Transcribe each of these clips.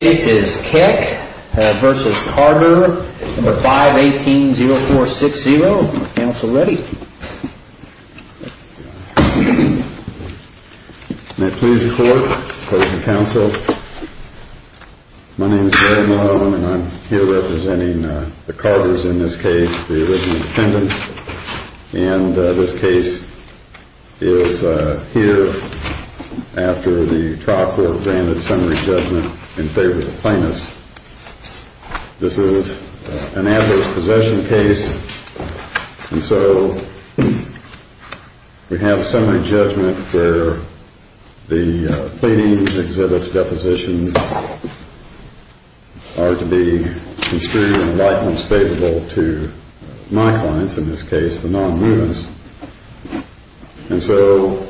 This is Keck v. Carder, number 518-0460. Counsel ready. May it please the court, the court and counsel. My name is Larry Mullen, and I'm here representing the Carders in this case, the original defendants. And this case is here after the trial court granted summary judgment in favor of the plaintiffs. This is an adverse possession case, and so we have summary judgment where the pleadings, exhibits, depositions are to be construed in the likeness favorable to my clients, in this case the non-movements. And so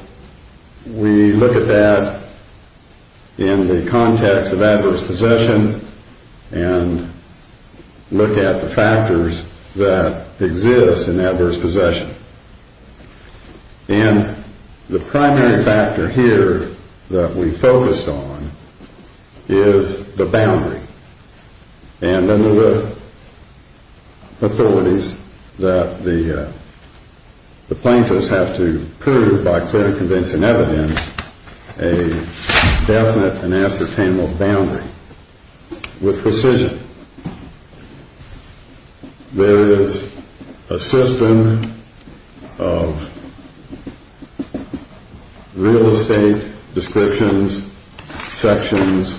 we look at that in the context of adverse possession and look at the factors that exist in adverse possession. And the primary factor here that we focused on is the boundary. And under the authorities that the plaintiffs have to prove by clearly convincing evidence a definite and ascertainable boundary with precision. There is a system of real estate descriptions, sections,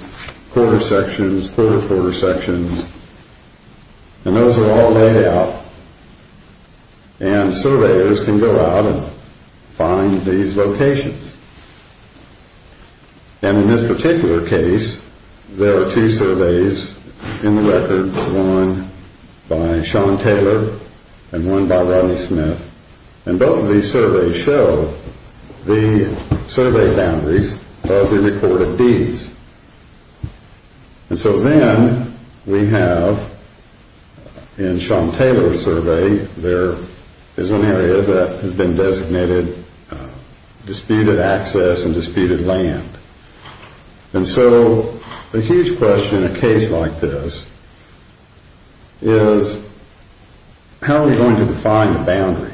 quarter sections, quarter quarter sections, and those are all laid out. And surveyors can go out and find these locations. And in this particular case, there are two surveys in the record, one by Sean Taylor and one by Rodney Smith. And both of these surveys show the survey boundaries of the reported deeds. And so then we have, in Sean Taylor's survey, there is an area that has been designated disputed access and disputed land. And so the huge question in a case like this is how are we going to define the boundary?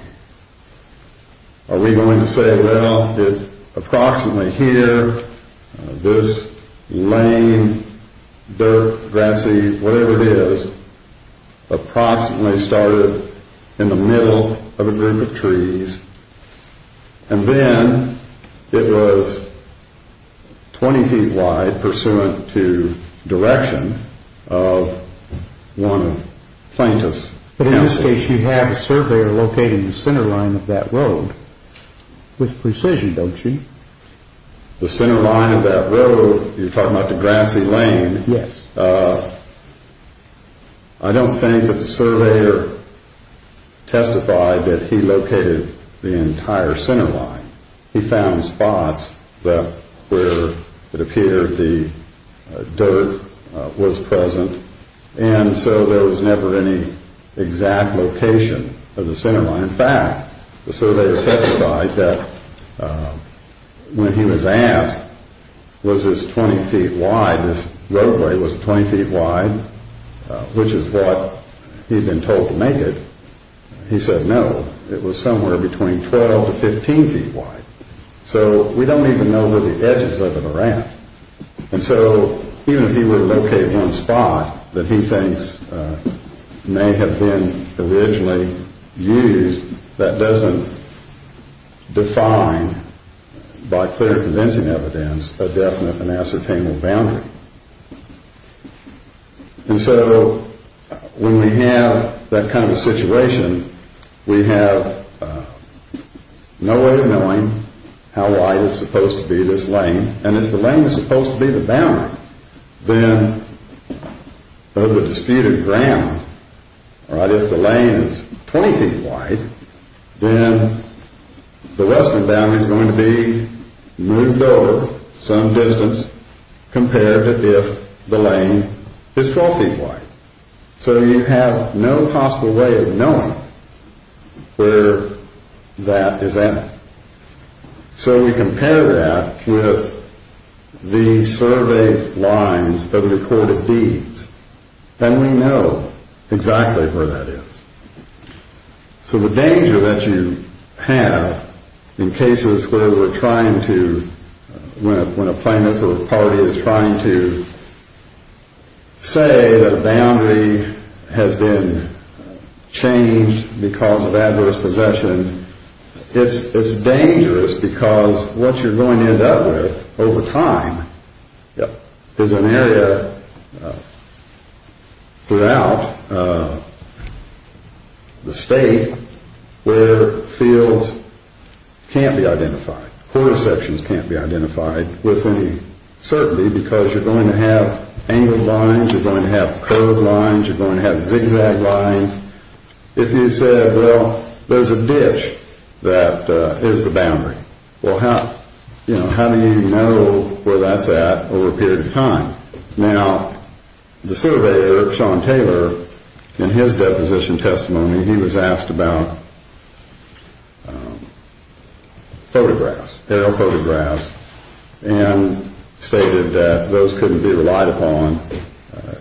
Are we going to say, well, it's approximately here, this lane, dirt, grassy, whatever it is, approximately started in the middle of a group of trees. And then it was 20 feet wide pursuant to direction of one plaintiff. But in this case, you have a surveyor locating the center line of that road with precision, don't you? The center line of that road, you're talking about the grassy lane. Yes. I don't think that the surveyor testified that he located the entire center line. He found spots where it appeared the dirt was present. And so there was never any exact location of the center line. In fact, the surveyor testified that when he was asked was this 20 feet wide, this roadway was 20 feet wide, which is what he had been told to make it, he said no, it was somewhere between 12 to 15 feet wide. So we don't even know where the edges of it are at. And so even if he were to locate one spot that he thinks may have been originally used, that doesn't define by clear convincing evidence a definite and ascertainable boundary. And so when we have that kind of a situation, we have no way of knowing how wide it's supposed to be, this lane. And if the lane is supposed to be the boundary, then of the disputed ground, if the lane is 20 feet wide, then the western boundary is going to be moved over some distance compared to if the lane is 12 feet wide. So you have no possible way of knowing where that is at. So when you compare that with the survey lines of the court of deeds, then we know exactly where that is. So the danger that you have in cases where we're trying to, when a plaintiff or a party is trying to say that a boundary has been changed because of adverse possession, it's dangerous because what you're going to end up with over time is an area throughout the state where fields can't be identified. Quarter sections can't be identified with any certainty because you're going to have angled lines, you're going to have curved lines, you're going to have zigzag lines. If you said, well, there's a ditch that is the boundary, well, how do you know where that's at over a period of time? Now, the surveyor, Sean Taylor, in his deposition testimony, he was asked about photographs, aerial photographs, and stated that those couldn't be relied upon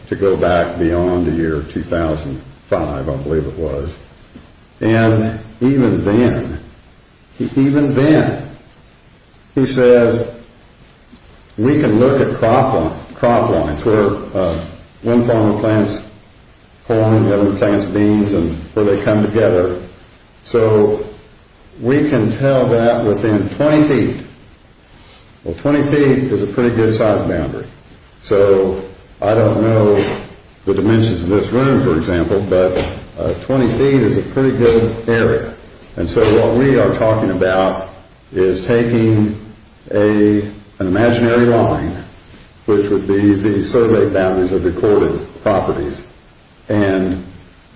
to go back beyond the year 2005, I believe it was. And even then, even then, he says, we can look at crop lines where one farm plants corn and the other plants beans and where they come together. So we can tell that within 20 feet. Well, 20 feet is a pretty good size boundary. So I don't know the dimensions of this room, for example, but 20 feet is a pretty good area. And so what we are talking about is taking an imaginary line, which would be the survey boundaries of recorded properties, and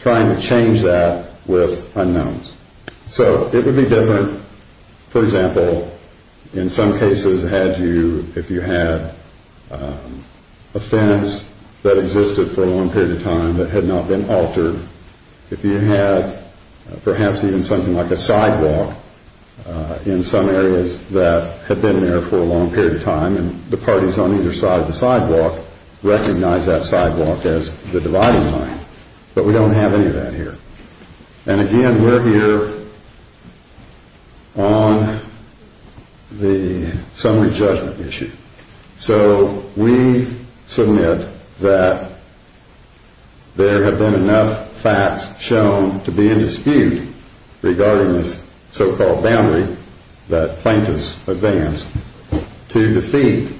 trying to change that with unknowns. So it would be different, for example, in some cases had you, if you had a fence that existed for a long period of time that had not been altered, if you had perhaps even something like a sidewalk in some areas that had been there for a long period of time, and the parties on either side of the sidewalk recognize that sidewalk as the dividing line. But we don't have any of that here. And again, we're here on the summary judgment issue. So we submit that there have been enough facts shown to be in dispute regarding this so-called boundary that plaintiffs advanced to defeat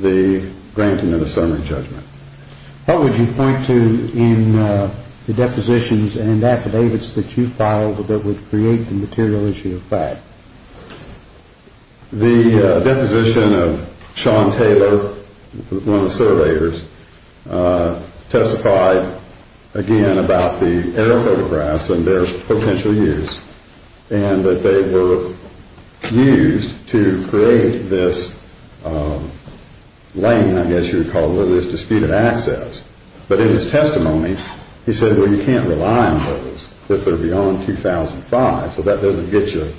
the granting of a summary judgment. What would you point to in the depositions and affidavits that you filed that would create the material issue of fact? The deposition of Sean Taylor, one of the surveyors, testified again about the air photographs and their potential use, and that they were used to create this lane, I guess you would call it, or this dispute of access. But in his testimony, he said, well, you can't rely on those if they're beyond 2005. So that doesn't get you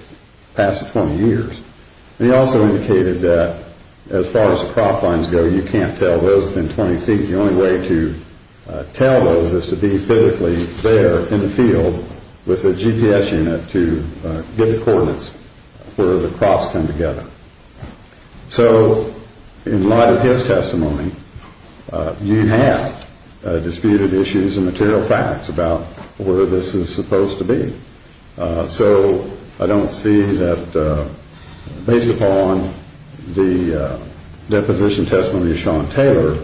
past 20 years. And he also indicated that as far as the crop lines go, you can't tell those within 20 feet. The only way to tell those is to be physically there in the field with a GPS unit to get the coordinates where the crops come together. So in light of his testimony, you have disputed issues and material facts about where this is supposed to be. So I don't see that based upon the deposition testimony of Sean Taylor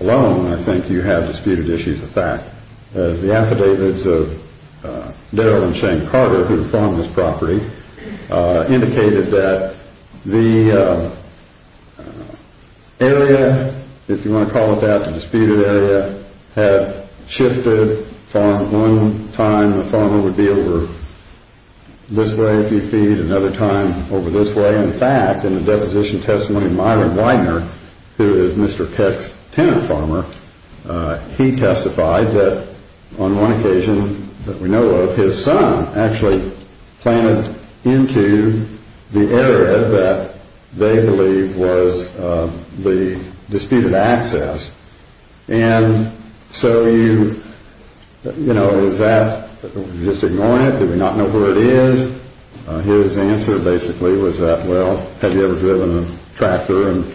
alone, I think you have disputed issues of fact. The affidavits of Darrell and Shane Carter, who farm this property, indicated that the area, if you want to call it that, the disputed area, had shifted from one time the farmer would be over this way a few feet, another time over this way. In fact, in the deposition testimony of Myron Widener, who is Mr. Peck's tenant farmer, he testified that on one occasion that we know of, his son actually planted into the area that they believe was the disputed access. And so you, you know, is that just ignoring it? Do we not know where it is? His answer basically was that, well, have you ever driven a tractor? And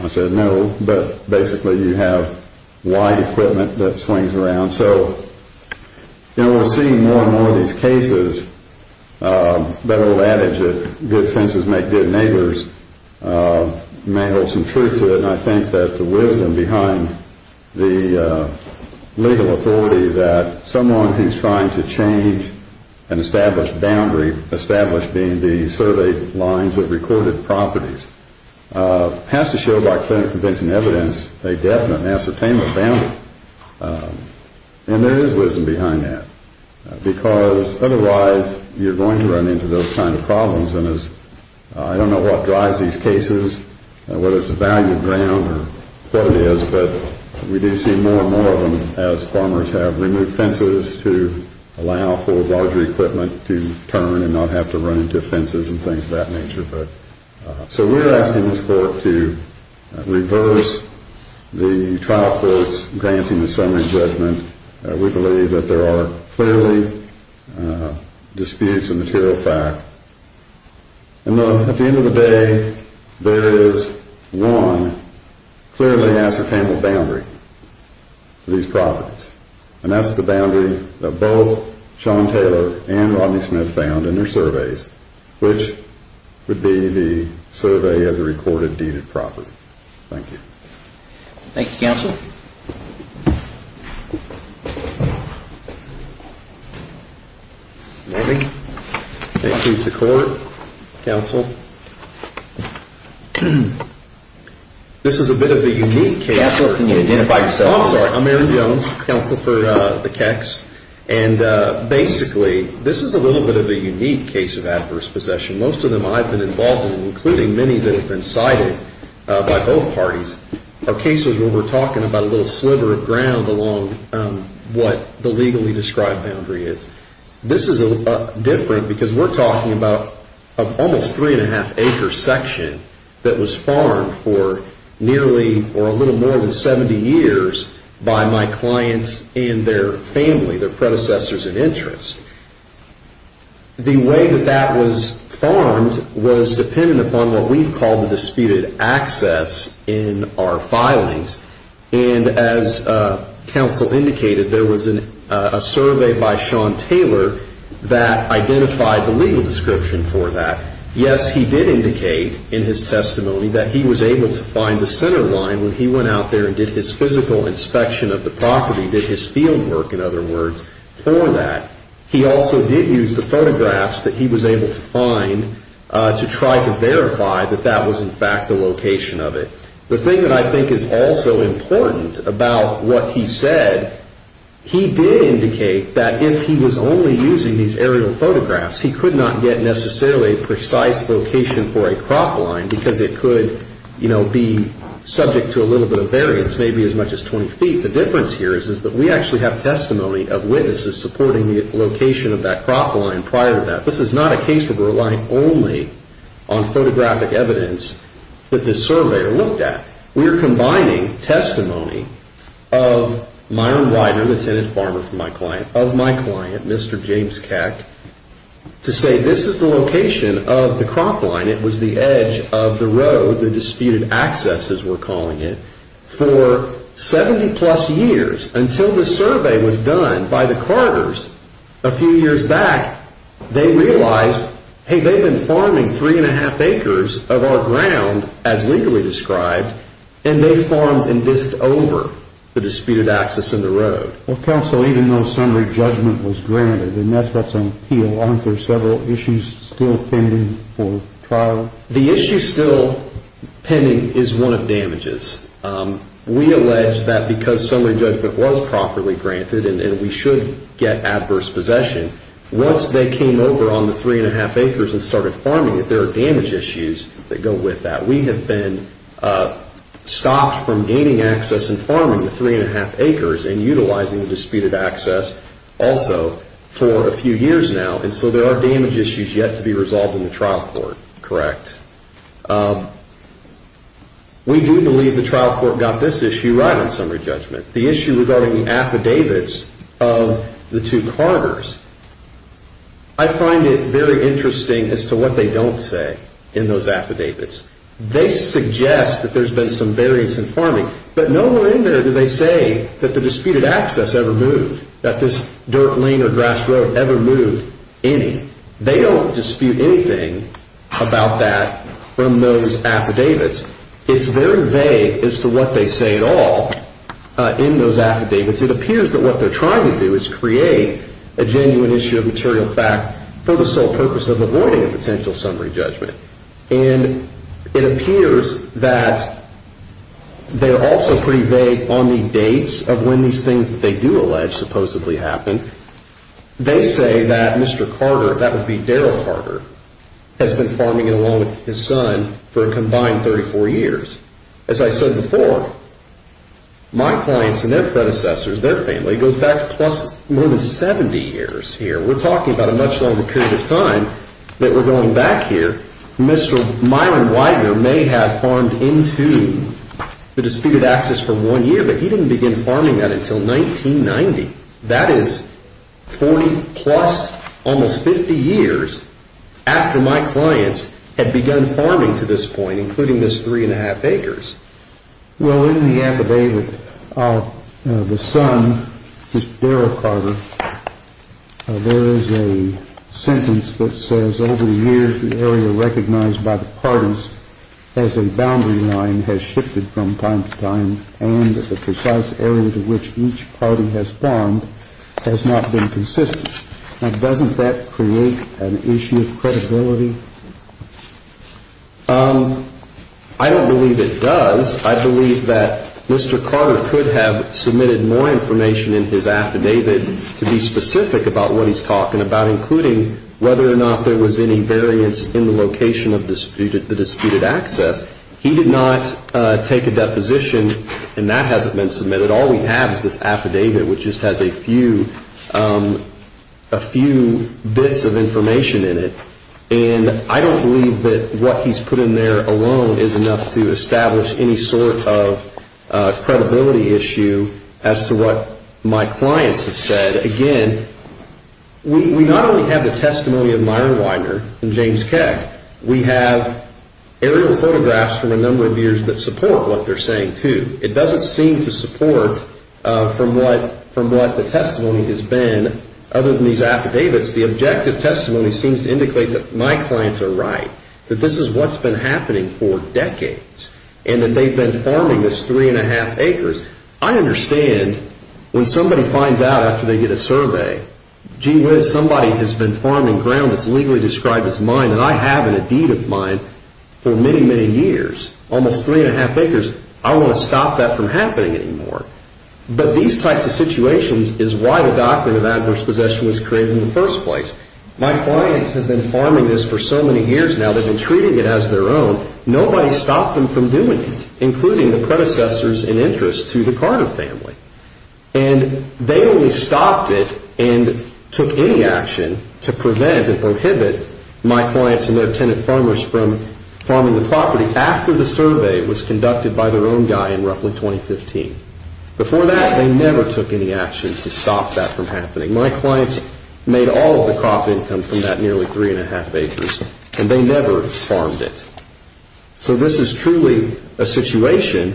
I said no, but basically you have wide equipment that swings around. So, you know, we're seeing more and more of these cases. Better old adage that good fences make good neighbors. You may hold some truth to it, and I think that the wisdom behind the legal authority that someone who's trying to change an established boundary, established being the survey lines of recorded properties, has to show by clear and convincing evidence a definite and ascertainable boundary. And there is wisdom behind that, because otherwise you're going to run into those kind of problems. And I don't know what drives these cases, whether it's the value of ground or what it is, but we do see more and more of them as farmers have removed fences to allow for larger equipment to turn and not have to run into fences and things of that nature. So we're asking this court to reverse the trial courts granting the summary judgment. We believe that there are clearly disputes of material fact. And at the end of the day, there is one clearly ascertainable boundary for these properties, and that's the boundary that both Sean Taylor and Rodney Smith found in their surveys, which would be the survey of the recorded deeded property. Thank you. Thank you, counsel. Thank you. Okay, please, the court. Counsel. This is a bit of a unique case. Counsel, can you identify yourself? Oh, I'm sorry. I'm Aaron Jones, counsel for the Kecks. And basically, this is a little bit of a unique case of adverse possession. Most of them I've been involved in, including many that have been cited by both parties, are cases where we're talking about a little sliver of ground along what the legally described boundary is. This is different because we're talking about an almost three-and-a-half-acre section that was farmed for nearly or a little more than 70 years by my clients and their family, their predecessors in interest. The way that that was farmed was dependent upon what we've called the disputed access in our filings. And as counsel indicated, there was a survey by Sean Taylor that identified the legal description for that. Yes, he did indicate in his testimony that he was able to find the center line when he went out there and did his physical inspection of the property, did his field work, in other words, for that. He also did use the photographs that he was able to find to try to verify that that was, in fact, the location of it. The thing that I think is also important about what he said, he did indicate that if he was only using these aerial photographs, he could not get necessarily a precise location for a crop line because it could, you know, be subject to a little bit of variance, maybe as much as 20 feet. The difference here is that we actually have testimony of witnesses supporting the location of that crop line prior to that. This is not a case where we're relying only on photographic evidence that this surveyor looked at. We're combining testimony of my own writer, the tenant farmer from my client, of my client, Mr. James Keck, to say this is the location of the crop line. It was the edge of the road, the disputed access, as we're calling it, for 70-plus years, until the survey was done by the Carters a few years back. They realized, hey, they've been farming three-and-a-half acres of our ground, as legally described, and they farmed and bisqued over the disputed access and the road. Well, counsel, even though summary judgment was granted, and that's what's on appeal, aren't there several issues still pending for trial? The issue still pending is one of damages. We allege that because summary judgment was properly granted and we should get adverse possession, once they came over on the three-and-a-half acres and started farming it, there are damage issues that go with that. We have been stopped from gaining access and farming the three-and-a-half acres and utilizing the disputed access also for a few years now, and so there are damage issues yet to be resolved in the trial court, correct? We do believe the trial court got this issue right on summary judgment. The issue regarding the affidavits of the two Carters, I find it very interesting as to what they don't say in those affidavits. They suggest that there's been some variance in farming, but nowhere in there do they say that the disputed access ever moved, that this dirt lane or grass road ever moved any. They don't dispute anything about that from those affidavits. It's very vague as to what they say at all in those affidavits. It appears that what they're trying to do is create a genuine issue of material fact for the sole purpose of avoiding a potential summary judgment, and it appears that they're also pretty vague on the dates of when these things that they do allege supposedly happened. They say that Mr. Carter, that would be Daryl Carter, has been farming along with his son for a combined 34 years. As I said before, my clients and their predecessors, their family, goes back more than 70 years here. We're talking about a much longer period of time that we're going back here. Mr. Myron Widener may have farmed into the disputed access for one year, but he didn't begin farming that until 1990. That is 40-plus, almost 50 years after my clients had begun farming to this point, including this three-and-a-half acres. Well, in the affidavit, the son, Mr. Daryl Carter, there is a sentence that says, Over the years, the area recognized by the parties as a boundary line has shifted from time to time, and the precise area to which each party has farmed has not been consistent. Now, doesn't that create an issue of credibility? I don't believe it does. I believe that Mr. Carter could have submitted more information in his affidavit to be specific about what he's talking about, including whether or not there was any variance in the location of the disputed access. He did not take a deposition, and that hasn't been submitted. All we have is this affidavit, which just has a few bits of information in it. And I don't believe that what he's put in there alone is enough to establish any sort of credibility issue as to what my clients have said. Again, we not only have the testimony of Myron Widener and James Keck, we have aerial photographs from a number of years that support what they're saying, too. It doesn't seem to support from what the testimony has been. Other than these affidavits, the objective testimony seems to indicate that my clients are right, that this is what's been happening for decades, and that they've been farming this three and a half acres. I understand when somebody finds out after they get a survey, gee whiz, somebody has been farming ground that's legally described as mine, and I have it in a deed of mine for many, many years, almost three and a half acres. I don't want to stop that from happening anymore. But these types of situations is why the doctrine of adverse possession was created in the first place. My clients have been farming this for so many years now, they've been treating it as their own. Nobody stopped them from doing it, including the predecessors in interest to the Carter family. And they only stopped it and took any action to prevent and prohibit my clients and their tenant farmers from farming the property after the survey was conducted by their own guy in roughly 2015. Before that, they never took any action to stop that from happening. My clients made all of the crop income from that nearly three and a half acres, and they never farmed it. So this is truly a situation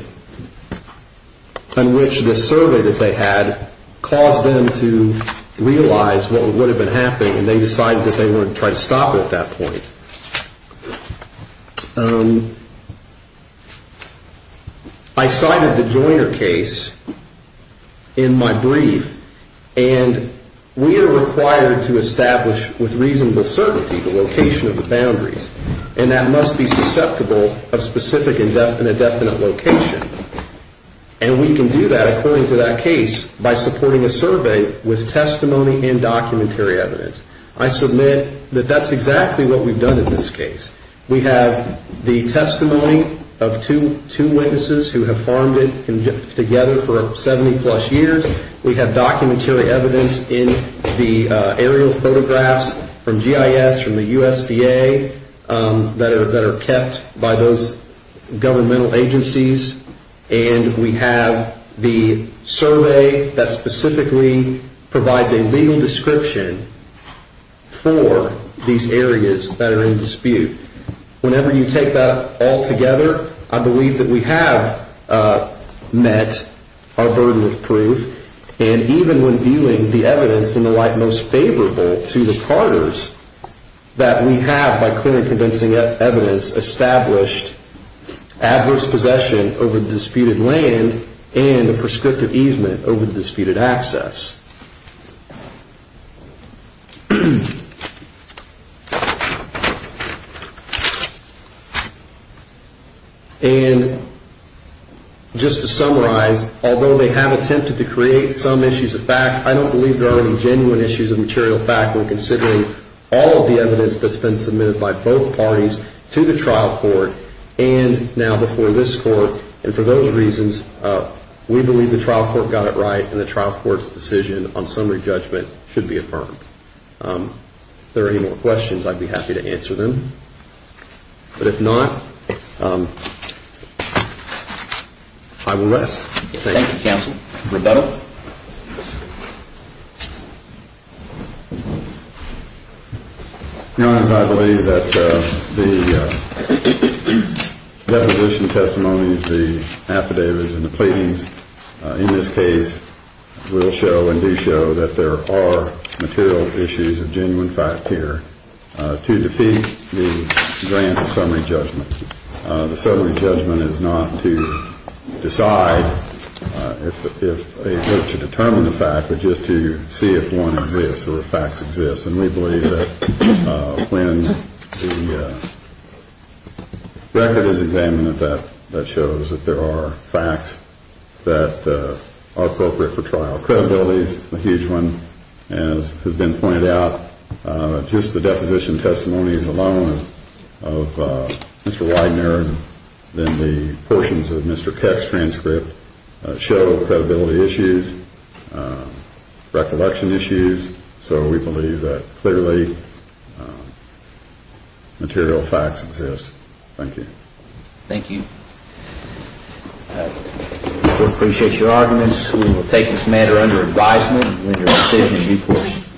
in which the survey that they had caused them to realize what would have been happening, and they decided that they wanted to try to stop it at that point. I cited the Joyner case in my brief, and we are required to establish with reasonable certainty the location of the boundaries, and that must be susceptible of specific indefinite location. And we can do that according to that case by supporting a survey with testimony and documentary evidence. I submit that that's exactly what we've done in this case. We have the testimony of two witnesses who have farmed it together for 70 plus years. We have documentary evidence in the aerial photographs from GIS, from the USDA, that are kept by those governmental agencies, and we have the survey that specifically provides a legal description for these areas that are in dispute. Whenever you take that all together, I believe that we have met our burden of proof, and even when viewing the evidence in the light most favorable to the partners, that we have, by clearly convincing evidence, established adverse possession over the disputed land and a prescriptive easement over the disputed access. And just to summarize, although they have attempted to create some issues of fact, I don't believe there are any genuine issues of material fact when considering all of the evidence that's been submitted by both parties to the trial court and now before this court, and for those reasons, we believe the trial court got it right and the trial court's decision on summary judgment should be affirmed. If there are any more questions, I'd be happy to answer them. But if not, I will rest. Thank you, counsel. Rebuttal. Your Honor, I believe that the deposition testimonies, the affidavits, and the pleadings in this case will show and do show that there are material issues of genuine fact here to defeat the grant of summary judgment. The summary judgment is not to decide if they look to determine the fact, but just to see if one exists or if facts exist. And we believe that when the record is examined, that shows that there are facts that are appropriate for trial. Credibility is a huge one, as has been pointed out. Just the deposition testimonies alone of Mr. Widener and then the portions of Mr. Kett's transcript show credibility issues, recollection issues. So we believe that clearly material facts exist. Thank you. Thank you. We appreciate your arguments. We will take this matter under advisement with your decision in due course.